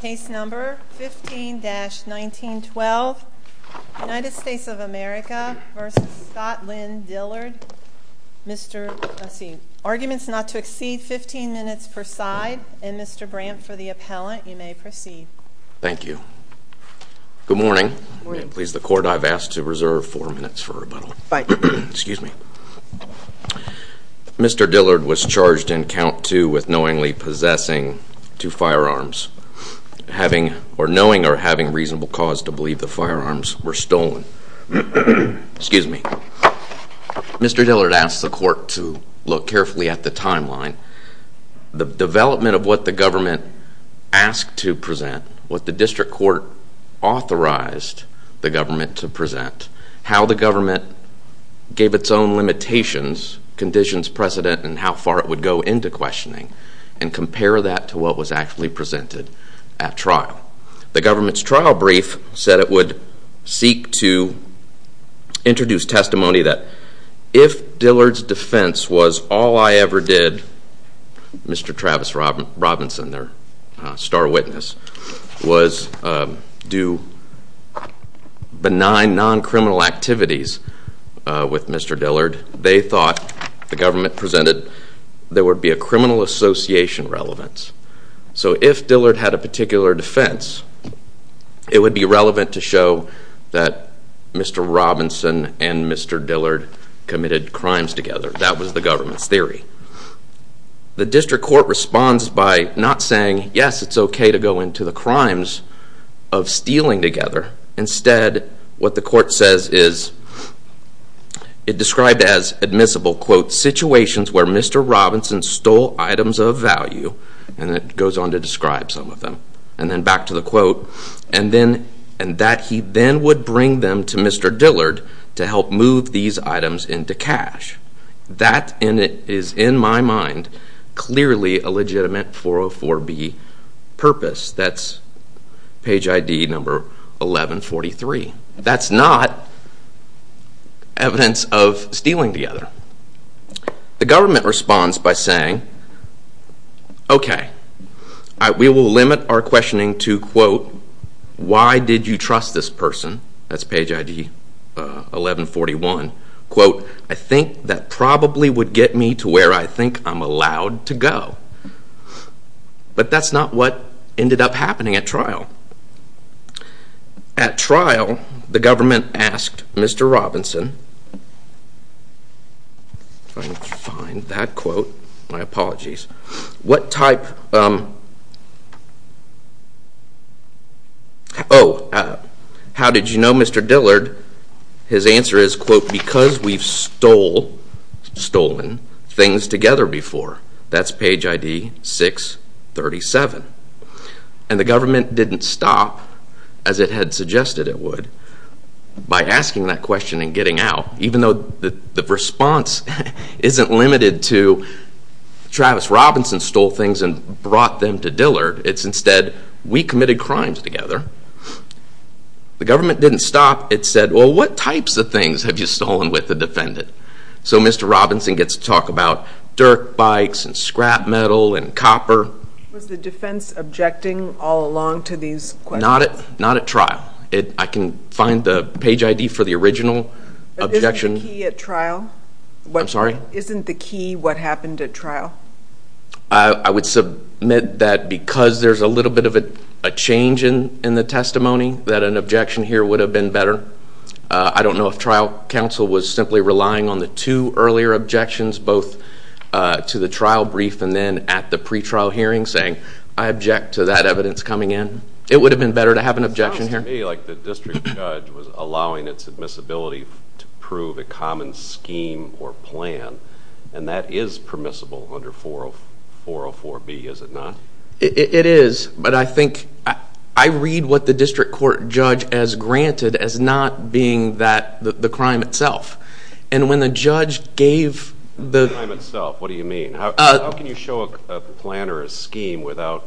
Case number 15-1912. United States of America v. Scott Lynn Dillard. Mr., let's see, arguments not to exceed 15 minutes per side and Mr. Brant for the appellant. You may proceed. Thank you. Good morning. May it please the court I've asked to reserve four minutes for rebuttal. Excuse me. Mr. Dillard was firearms having or knowing or having reasonable cause to believe the firearms were stolen. Excuse me. Mr. Dillard asked the court to look carefully at the timeline. The development of what the government asked to present, what the district court authorized the government to present, how the government gave its own limitations, conditions, precedent, and how far it would go into questioning and compare that to what was actually presented at trial. The government's trial brief said it would seek to introduce testimony that if Dillard's defense was all I ever did, Mr. Travis Robinson, their star witness, was do benign non-criminal activities with Mr. Dillard, they thought the government presented there would be a criminal association relevance. So if Dillard had a particular defense, it would be relevant to show that Mr. Robinson and Mr. Dillard committed crimes together. That was the government's theory. The district court responds by not saying yes, it's okay to go into the crimes of stealing together. Instead, what the court says is it described as admissible situations where Mr. Robinson stole items of value, and it goes on to describe some of them. And then back to the quote, and that he then would bring them to Mr. Dillard to help move these items into cash. That is, in my mind, clearly a legitimate 404B purpose. That's page ID number 1143. That's not evidence of stealing together. The government responds by saying, okay, we will limit our questioning to, quote, why did you trust this person? That's page ID 1141. Quote, I think that probably would get me to where I think I'm allowed to go. But that's not what ended up happening at trial. At trial, the Mr. Robinson, if I can find that quote, my apologies, what type... Oh, how did you know Mr. Dillard? His answer is, quote, because we've stolen things together before. That's page ID 637. And the government didn't stop, as it had suggested it would, by asking that question and getting out, even though the response isn't limited to Travis Robinson stole things and brought them to Dillard. It's instead, we committed crimes together. The government didn't stop. It said, well, what types of things have you stolen with the defendant? So Mr. Robinson gets to talk about dirt bikes and scrap metal and copper. Was the I can find the page ID for the original objection. But isn't the key at trial? I'm sorry? Isn't the key what happened at trial? I would submit that because there's a little bit of a change in the testimony, that an objection here would have been better. I don't know if trial counsel was simply relying on the two earlier objections, both to the trial brief and then at the pretrial hearing, saying, I object to that evidence coming in. It would have been better to have an objection here. It sounds to me like the district judge was allowing its admissibility to prove a common scheme or plan, and that is permissible under 404B, is it not? It is, but I think, I read what the district court judge has granted as not being that, the crime itself. And when the judge gave the... Crime itself, what do you mean? How can you show a plan or a scheme without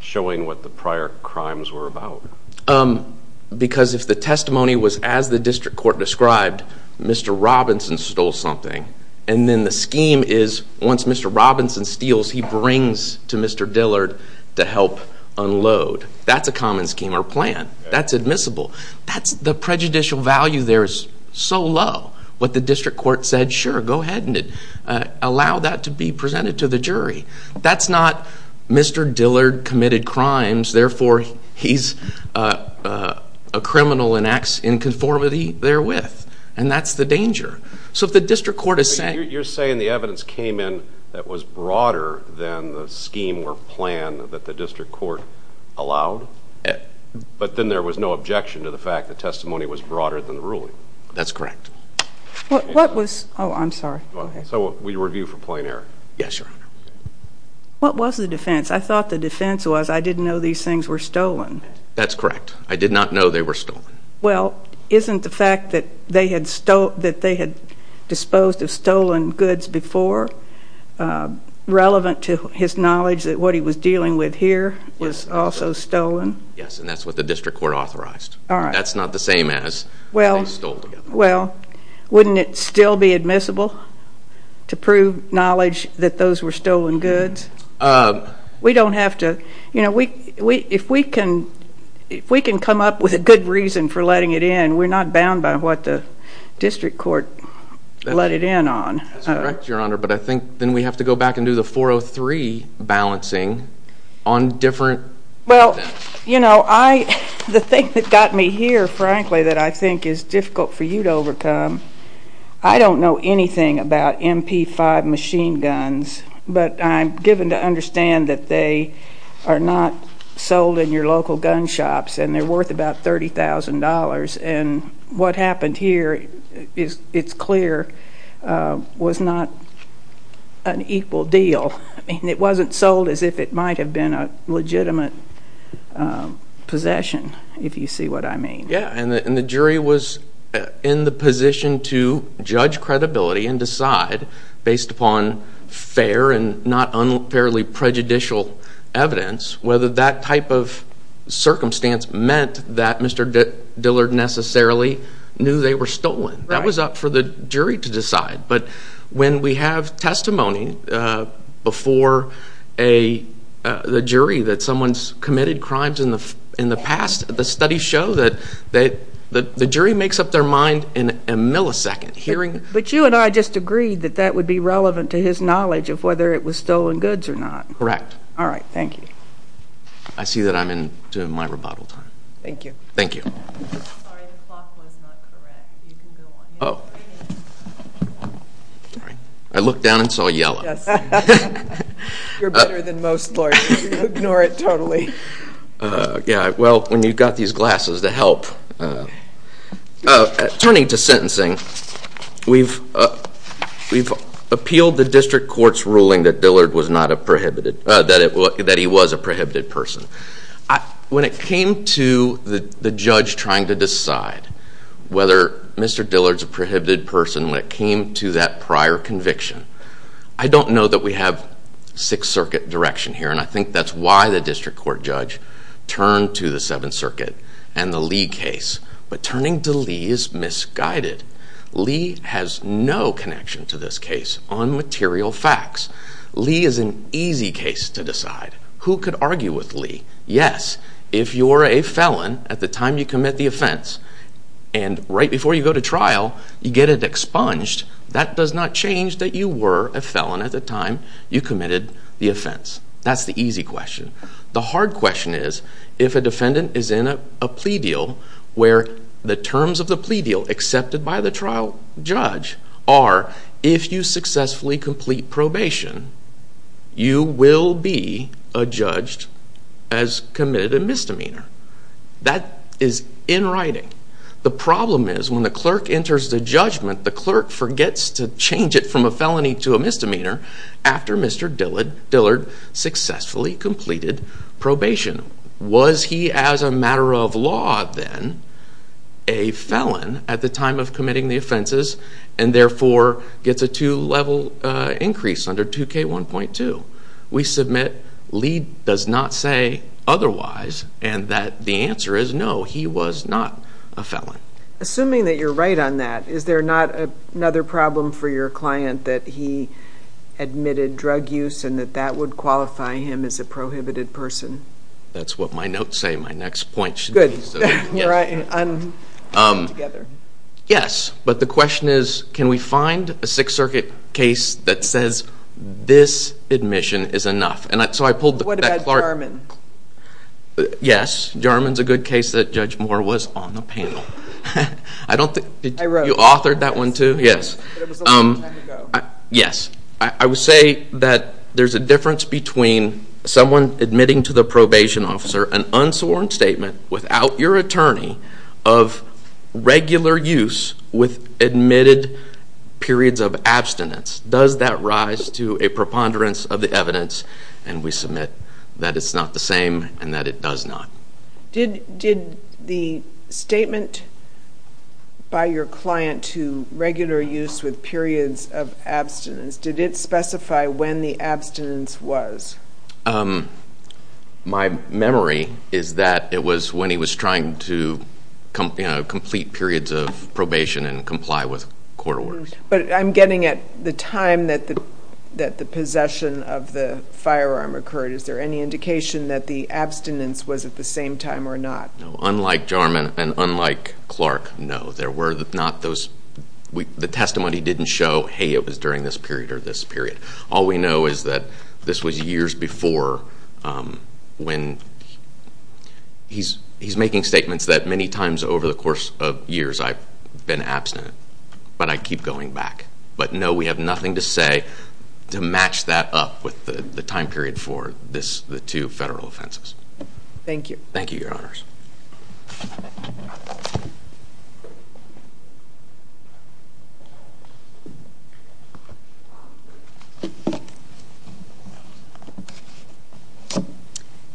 showing what the prior crimes were about? Because if the testimony was as the district court described, Mr. Robinson stole something, and then the scheme is, once Mr. Robinson steals, he brings to Mr. Dillard to help unload. That's a common scheme or plan. That's admissible. That's the prejudicial value there is so low. What the district court said, sure, go ahead and allow that to be Mr. Dillard committed crimes, therefore he's a criminal and acts in conformity therewith, and that's the danger. So if the district court is saying... You're saying the evidence came in that was broader than the scheme or plan that the district court allowed, but then there was no objection to the fact the testimony was broader than the ruling. That's correct. What was... Oh, I'm sorry. So we review for the defense was, I didn't know these things were stolen. That's correct. I did not know they were stolen. Well, isn't the fact that they had disposed of stolen goods before relevant to his knowledge that what he was dealing with here was also stolen? Yes, and that's what the district court authorized. That's not the same as... Well, wouldn't it still be admissible to prove knowledge that those were stolen goods? We don't have to, you know, if we can come up with a good reason for letting it in, we're not bound by what the district court let it in on. That's correct, Your Honor, but I think then we have to go back and do the 403 balancing on different... Well, you know, I, the thing that got me here, frankly, that I think is difficult for you to overcome, I don't know anything about MP5 machine guns, but I'm given to understand that they are not sold in your local gun shops, and they're worth about $30,000, and what happened here is, it's clear, was not an equal deal. I mean, it wasn't sold as if it might have been a legitimate possession, if you see what I mean. Yeah, and the jury was in the position to judge credibility and decide, based upon fair and not unfairly prejudicial evidence, whether that type of circumstance meant that Mr. Dillard necessarily knew they were stolen. That was up for the jury to decide, but when we have testimony before the jury that someone's the jury makes up their mind in a millisecond, hearing... But you and I just agreed that that would be relevant to his knowledge of whether it was stolen goods or not. Correct. All right, thank you. I see that I'm into my rebuttal time. Thank you. Thank you. Sorry, the clock was not correct. You can go on. Oh. Sorry. I looked down and saw yellow. Yes. You're better than most lawyers. Ignore it totally. Yeah, well, when you've got these glasses to help... Turning to sentencing, we've appealed the district court's ruling that Dillard was not a prohibited... that he was a prohibited person. When it came to the judge trying to decide whether Mr. Dillard's a prohibited person, when it came to that prior conviction, I don't know that we have Sixth Circuit direction here, and I think that's why the district court judge turned to the Seventh Circuit and the Lee case. But turning to Lee is misguided. Lee has no connection to this case on material facts. Lee is an easy case to decide. Who could argue with Lee? Yes, if you're a felon at the time you commit the offense, and right before you go to trial, you get it expunged, that does not change that you were a felon at the time you The hard question is, if a defendant is in a plea deal where the terms of the plea deal accepted by the trial judge are, if you successfully complete probation, you will be adjudged as committed a misdemeanor. That is in writing. The problem is, when the clerk enters the judgment, the clerk forgets to Was he as a matter of law, then, a felon at the time of committing the offenses, and therefore gets a two-level increase under 2K1.2? We submit Lee does not say otherwise, and that the answer is no, he was not a felon. Assuming that you're right on that, is there not another problem for your client that he admitted drug use, and that that would qualify him as a prohibited person? That's what my notes say, my next point should be. Yes, but the question is, can we find a Sixth Circuit case that says this admission is enough? What about Jarman? Yes, Jarman's a good case that Judge Moore was on the panel. I don't think you authored that one too, yes. Yes, I would say that there's a difference between someone admitting to the probation officer an unsworn statement without your attorney of regular use with admitted periods of abstinence. Does that rise to a preponderance of the evidence? And we submit that it's not the same, and that it does not. Did the statement by your client to regular use with periods of abstinence, did it specify when the abstinence was? My memory is that it was when he was trying to complete periods of probation and comply with court orders. But I'm getting at the time that the possession of the abstinence was at the same time or not. No, unlike Jarman and unlike Clark, no, there were not those, the testimony didn't show, hey, it was during this period or this period. All we know is that this was years before when, he's making statements that many times over the course of years I've been abstinent, but I keep going back. But no, we have nothing to say to match that up with the time period for the two federal offenses. Thank you. Thank you, your honors.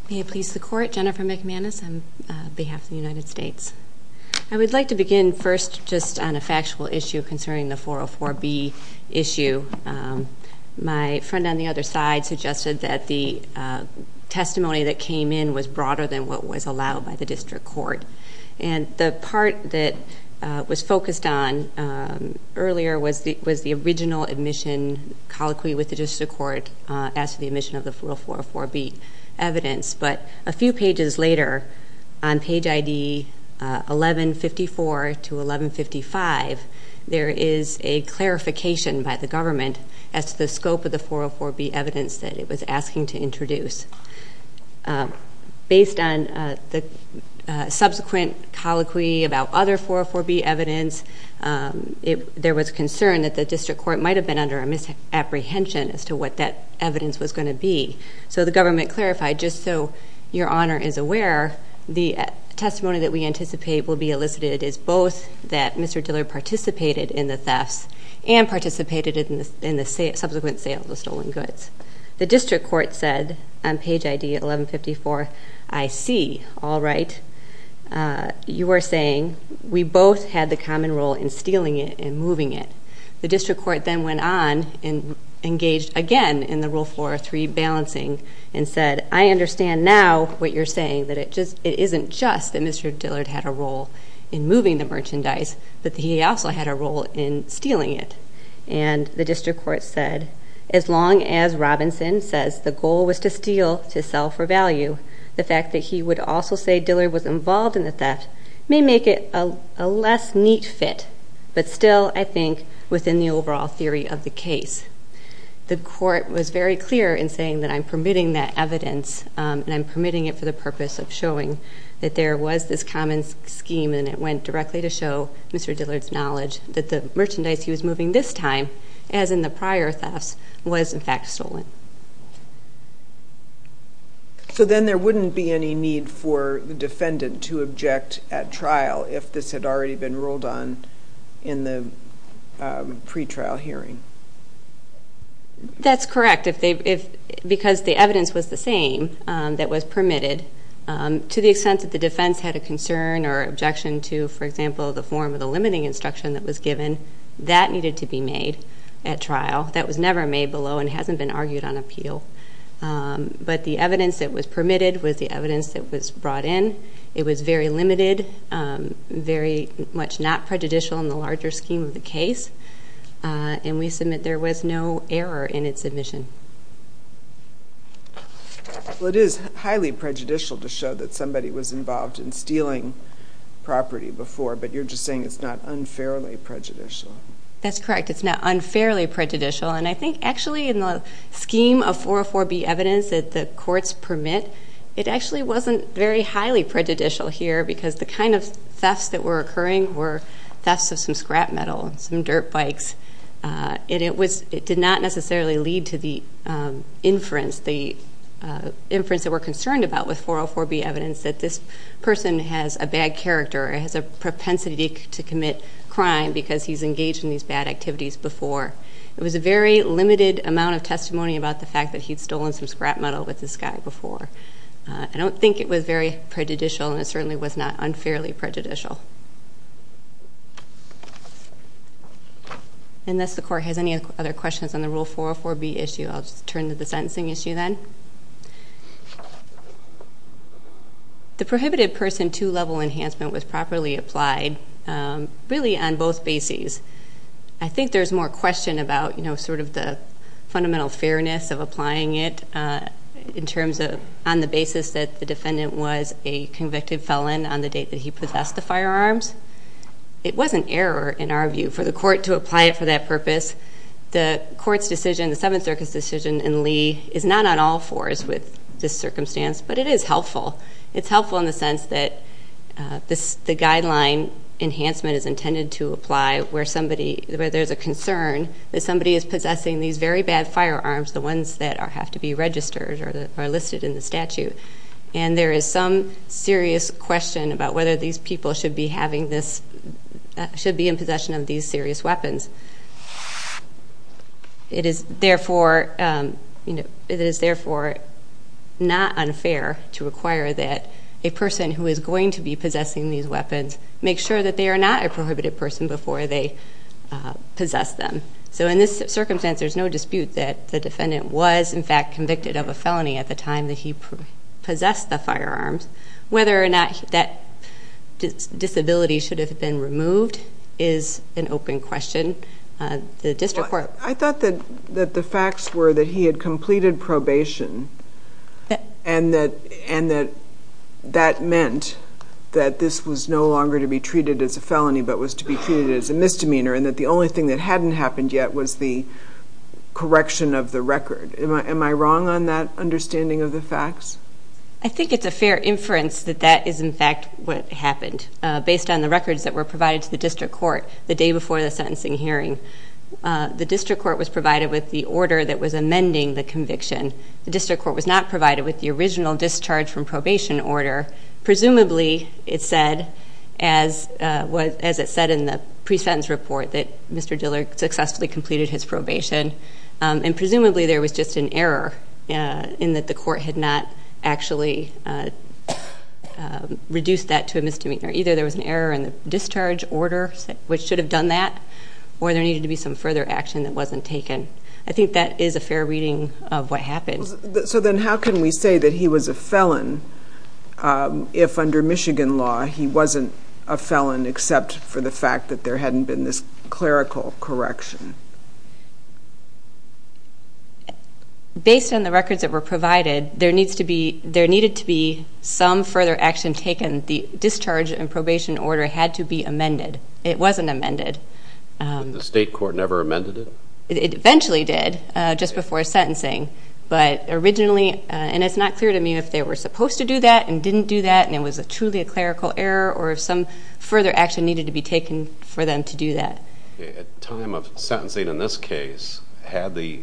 May it please the court, Jennifer McManus on behalf of the United States. I would like to begin first just on a factual issue concerning the 404B issue. My friend on the other side suggested that the testimony that came in was broader than what was allowed by the district court. And the part that was focused on earlier was the original admission colloquy with the district court as to the admission of the 404B evidence. But a few pages later on page ID 1154 to 1155, there is a clarification by the government as to the scope of the 404B evidence that it was asking to introduce. Based on the subsequent colloquy about other 404B evidence, there was concern that the district court might have been under a misapprehension as to what that evidence was going to be. So the government clarified, just so your honor is aware, the testimony that we anticipate will be elicited is both that Mr. Dillard participated in the thefts and participated in the subsequent sale of the stolen goods. The district court said on page ID 1154, I see, all right, you are saying we both had the common role in stealing it and moving it. The district court then went on and engaged again in the Rule 403 balancing and said, I understand now what you're saying, that it just it isn't just that Mr. Dillard had a role in moving the merchandise, but he also had a role in stealing it. And the district court said, as long as Robinson says the goal was to steal to sell for value, the fact that he would also say Dillard was involved in the theft may make it a less neat fit, but still I think within the overall theory of the case. The court was very clear in saying that I'm permitting that evidence and I'm permitting it for the purpose of showing that there was this common scheme and it went directly to show Mr. Dillard's knowledge that the merchandise he was moving this time, as in the prior thefts, was in fact stolen. So then there wouldn't be any need for the defendant to object at trial if this had already been ruled on in the pretrial hearing? That's correct, because the evidence was the same that was permitted to the extent that the defense had a concern or objection to, for example, the form of the limiting instruction that was given, that needed to be made at trial. That was never made below and hasn't been argued on appeal. But the evidence that was permitted was the evidence that was brought in. It was very limited, very much not prejudicial in the larger scheme of the case, and we submit there was no error in its dealing property before, but you're just saying it's not unfairly prejudicial. That's correct, it's not unfairly prejudicial. And I think actually in the scheme of 404B evidence that the courts permit, it actually wasn't very highly prejudicial here, because the kind of thefts that were occurring were thefts of some scrap metal, some dirt bikes. It did not necessarily lead to the inference that we're concerned about with 404B evidence that this person has a bad character or has a propensity to commit crime because he's engaged in these bad activities before. It was a very limited amount of testimony about the fact that he'd stolen some scrap metal with this guy before. I don't think it was very prejudicial and it certainly was not unfairly prejudicial. And unless the court has any other questions on the Rule 404B issue, I'll just turn to the sentencing issue then. The prohibited person two level enhancement was properly applied, really on both bases. I think there's more question about the fundamental fairness of applying it in terms of on the basis that the defendant was a convicted felon on the date that he possessed the firearms. It was an error in our view for the court to apply it for that purpose. The court's decision, the Seventh Circuit's decision in Lee is not on all circumstance, but it is helpful. It's helpful in the sense that the guideline enhancement is intended to apply where there's a concern that somebody is possessing these very bad firearms, the ones that have to be registered or are listed in the statute. And there is some serious question about whether these people should be having this, should be in possession of these serious weapons. It is therefore not unfair to require that a person who is going to be possessing these weapons make sure that they are not a prohibited person before they possess them. So in this circumstance, there's no dispute that the defendant was in fact convicted of a felony at the time that he possessed the firearms. Whether or not that disability should have been removed is an open question. The district court... I thought that the facts were that he had completed probation and that that meant that this was no longer to be treated as a felony, but was to be treated as a misdemeanor and that the only thing that hadn't happened yet was the correction of the record. Am I wrong on that understanding of the facts? I think it's a fair inference that that is in fact what happened. Based on the records that were provided to the district court the day before the sentencing hearing, the district court was provided with the order that was amending the conviction. The district court was not provided with the original discharge from probation order. Presumably it said, as it said in the pre-sentence report, that Mr. Dillard successfully completed his probation. And presumably there was just an error in that the court had not actually reduced that to a misdemeanor. Either there was an error in the discharge order, which should have done that, or there needed to be some further action that wasn't taken. I think that is a fair reading of what happened. So then how can we say that he was a felon if under Michigan law he wasn't a felon except for the fact that there hadn't been this clerical correction? Based on the records that were provided, there needs to be... There needed to be some further action taken. The discharge and probation order had to be amended. It wasn't amended. But the state court never amended it? It eventually did, just before sentencing. But originally... And it's not clear to me if they were supposed to do that and didn't do that and it was truly a clerical error or if some further action needed to be taken for them to do that. At time of sentencing in this case, had the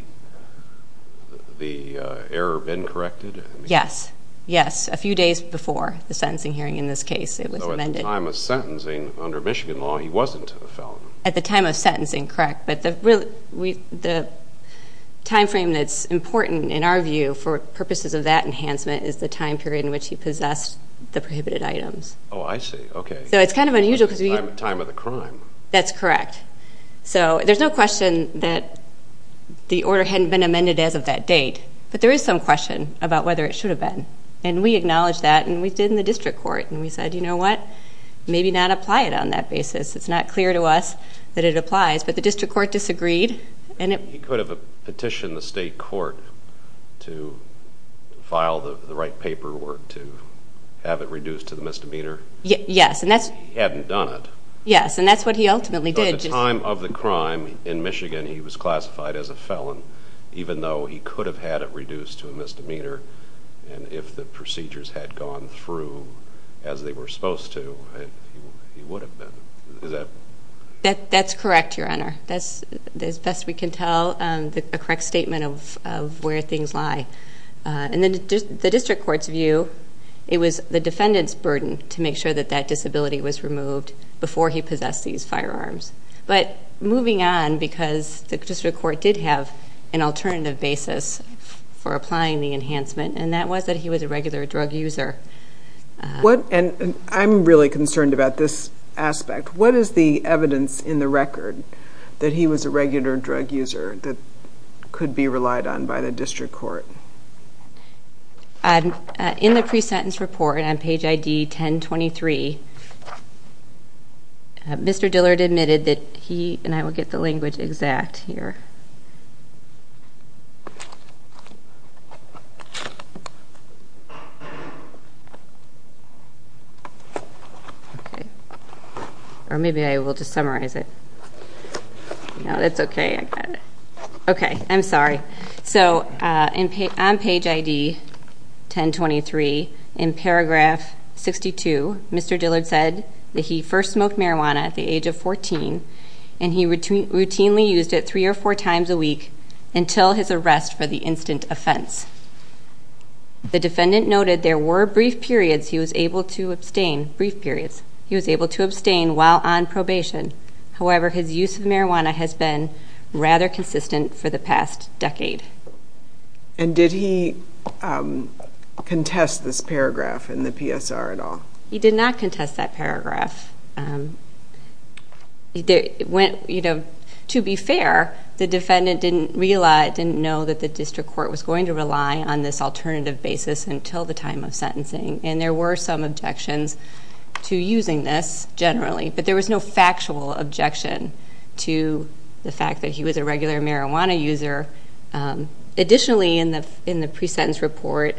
error been corrected? Yes. Yes. A few days before the sentencing hearing in this case, it was amended. So at the time of sentencing, under Michigan law, he wasn't a felon? At the time of sentencing, correct. But the time frame that's important in our view for purposes of that enhancement is the time period in which he possessed the prohibited items. Oh, I see. Okay. So it's kind of unusual because we... Time of the crime. That's correct. So there's no question that the order hadn't been amended as of that date. But there is some question about whether it should have been. And we acknowledged that and we did in the district court. And we said, you know what? Maybe not apply it on that basis. It's not clear to us that it applies. But the district court disagreed and it... He could have petitioned the state court to file the right paperwork to have it reduced to the misdemeanor? Yes. And that's... He hadn't done it. Yes. And that's what he ultimately did. At the time of the crime in Michigan, he was classified as a felon even though he could have had it reduced to a misdemeanor. And if the procedures had gone through as they were supposed to, he would have been. Is that... That's correct, Your Honor. That's, as best we can tell, a correct statement of where things lie. And then the district court's view, it was the removed before he possessed these firearms. But moving on, because the district court did have an alternative basis for applying the enhancement, and that was that he was a regular drug user. What... And I'm really concerned about this aspect. What is the evidence in the record that he was a regular drug user that could be relied on by the district court? In the presentence report on page ID 1023, Mr. Dillard admitted that he... And I will get the language exact here. Okay. Or maybe I will just summarize it. No, that's okay. I got it. Okay. I'm sorry. So, on page ID 1023, in paragraph 62, Mr. Dillard said that he first smoked marijuana at the age of 14, and he routinely used it three or four times a week until his arrest for the instant offense. The defendant noted there were brief periods he was able to abstain... Brief periods. He was able to abstain while on probation. However, his use of marijuana has been rather consistent for the past decade. And did he contest this paragraph in the PSR at all? He did not contest that paragraph. To be fair, the defendant didn't know that the district court was going to rely on this alternative basis until the time of sentencing, and there were some objections to using this, generally, but there was no factual objection to the fact that he was a regular marijuana user. Additionally, in the pre-sentence report,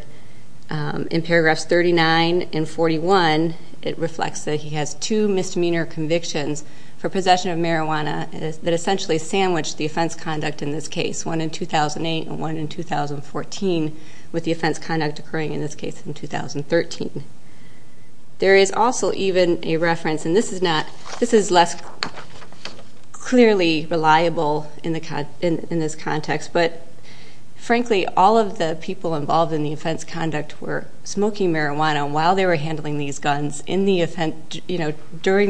in paragraphs 39 and 41, it reflects that he has two misdemeanor convictions for possession of marijuana that essentially sandwiched the offense conduct in this case, one in 2008 and one in 2014, with the offense conduct occurring in this case in 2013. There is also even a reference, and this is less clearly reliable in this context, but frankly, all of the people involved in the offense conduct were smoking marijuana while they were handling these guns during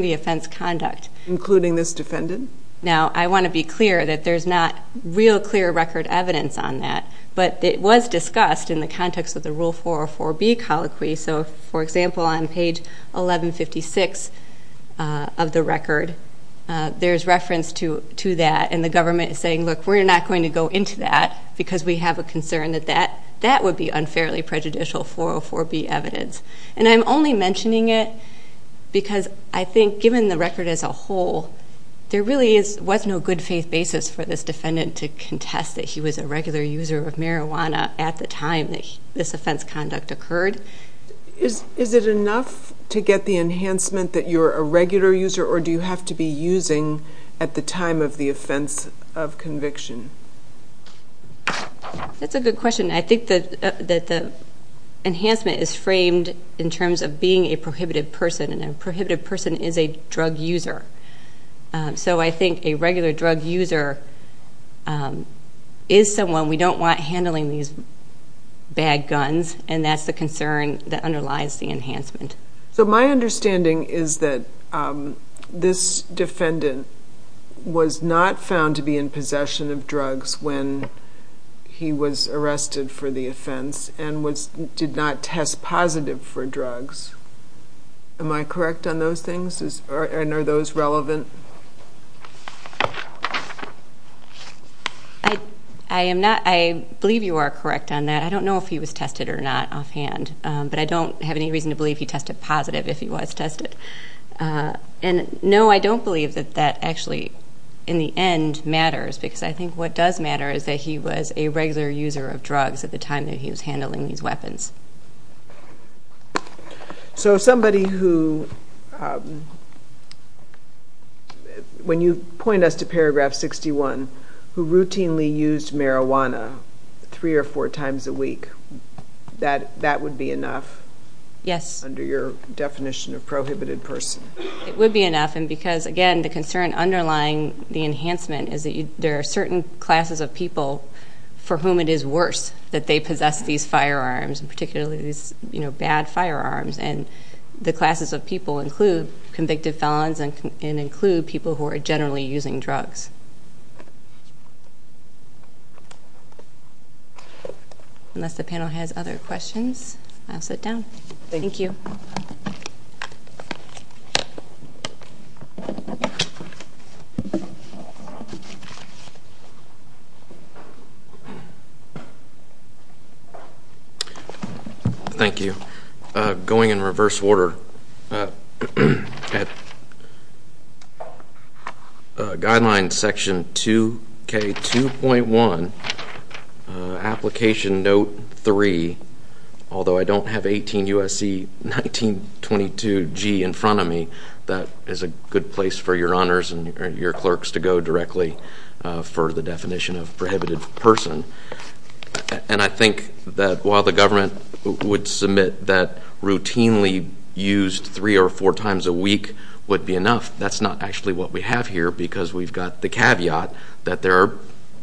the offense conduct. Including this defendant? Now, I want to be clear that there's not real clear record evidence on that, but it was discussed in the context of the Rule 404B colloquy, so for example, on page 1156 of the record, there's reference to that, and the government is saying, look, we're not going to go into that because we have a concern that that would be unfairly prejudicial 404B evidence. And I'm only mentioning it because I think, given the record as a whole, there really was no good faith basis for this defendant to contest that he was a regular user of marijuana at the time that this offense conduct occurred. Is it enough to get the enhancement that you're a regular user, or do you have to be using at the time of the offense of conviction? That's a good question. I think that the enhancement is framed in terms of being a prohibited person, and a prohibited person is a drug user. So I think a regular drug user is someone we don't want handling these bad guns, and that's the concern that underlies the enhancement. So my understanding is that this defendant was not found to be in possession of drugs when he was arrested for the offense, and did not test positive for drugs. Am I correct on those things, and are those relevant? I believe you are correct on that. I don't know if he was tested or not offhand, but I don't have any reason to believe he tested positive if he was tested. And no, I don't believe that that actually, in the end, matters, because I think what does matter is that he was a regular user of drugs at the time that he was handling these weapons. So somebody who, when you point us to paragraph 61, who routinely used marijuana three or four times a week, that would be enough? Yes. Under your definition of prohibited person? It would be enough, and because, again, the concern underlying the enhancement is that there are certain classes of people for whom it is worse that they possess these firearms, and particularly these bad firearms, and the classes of people include convicted felons and include people who are generally using drugs. Thank you. Unless the panel has other questions, I'll sit down. Thank you. Thank you. Going in reverse order, at guideline section 2K2.1, application note 3, although I don't have 18 U.S.C. 1922G in front of me, that is a good place for your honors and your clerks to go directly for the definition of prohibited person. And I think that while the government would submit that routinely used three or four times a week would be enough, that's not actually what we have here, because we've got the caveat that there are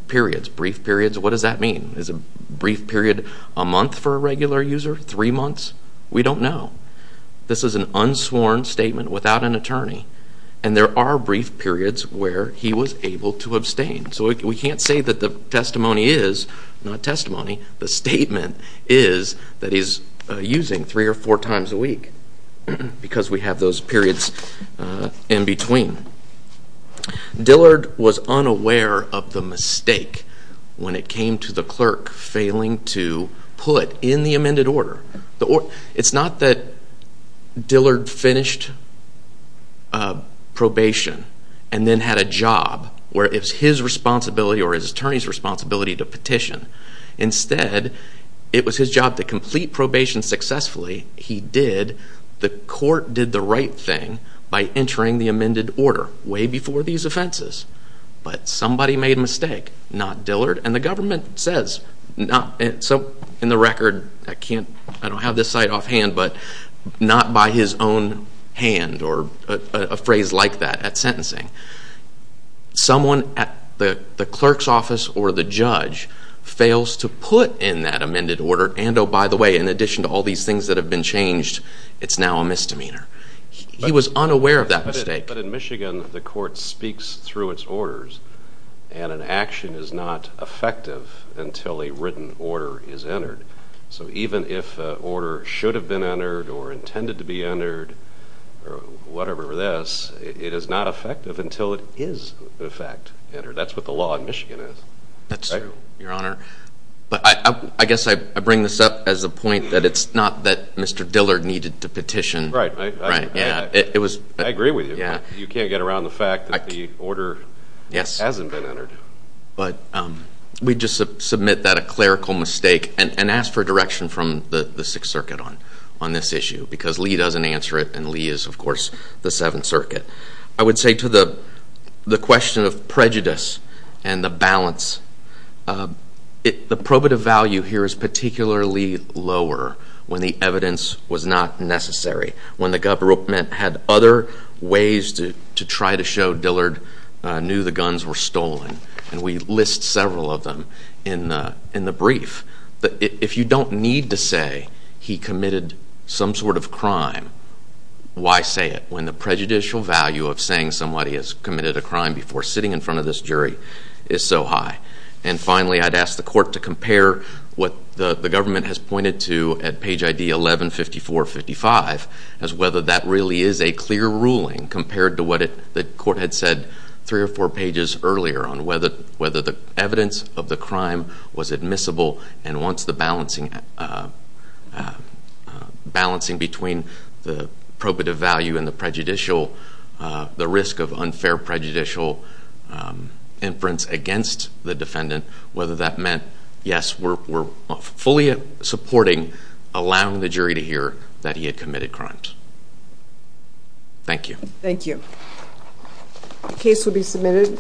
periods, brief periods. What does that mean? Is a brief period a month for a regular user, three months? We don't know. This is an unsworn statement without an attorney, and there are brief periods where he was able to abstain. We can't say that the testimony is not testimony. The statement is that he's using three or four times a week, because we have those periods in between. Dillard was unaware of the mistake when it came to the clerk failing to put in the amended order. It's not that Dillard finished probation and then had a job where it was his responsibility or his attorney's responsibility to petition. Instead, it was his job to complete probation successfully. He did. The court did the right thing by entering the amended order way before these offenses. But somebody made a mistake, not Dillard. And the government says, in the record, I don't have this site offhand, but not by his own hand or a phrase like that at sentencing. Someone at the clerk's office or the judge fails to put in that amended order. And oh, by the way, in addition to all these things that have been changed, it's now a misdemeanor. He was unaware of that mistake. In Michigan, the court speaks through its orders, and an action is not effective until a written order is entered. So even if an order should have been entered or intended to be entered or whatever this, it is not effective until it is, in fact, entered. That's what the law in Michigan is. That's true, Your Honor. But I guess I bring this up as a point that it's not that Mr. Dillard needed to petition. Right. I agree with you. You can't get around the fact that the order hasn't been entered. But we just submit that a clerical mistake and ask for direction from the Sixth Circuit on this issue, because Lee doesn't answer it. And Lee is, of course, the Seventh Circuit. I would say to the question of prejudice and the balance, the probative value here is particularly lower when the evidence was not necessary, when the government had other ways to try to show Dillard knew the guns were stolen. And we list several of them in the brief. If you don't need to say he committed some sort of crime, why say it when the prejudicial value of saying somebody has committed a crime before sitting in front of this jury is so high? And finally, I'd ask the court to compare what the government has pointed to at page ID 11-5455 as whether that really is a clear ruling compared to what the court had said three or four pages earlier on whether the evidence of the crime was admissible. And once the balancing between the probative value and the risk of unfair prejudicial inference against the defendant, whether that meant, yes, we're fully supporting allowing the jury to hear that he had committed crimes. Thank you. Thank you. The case will be submitted.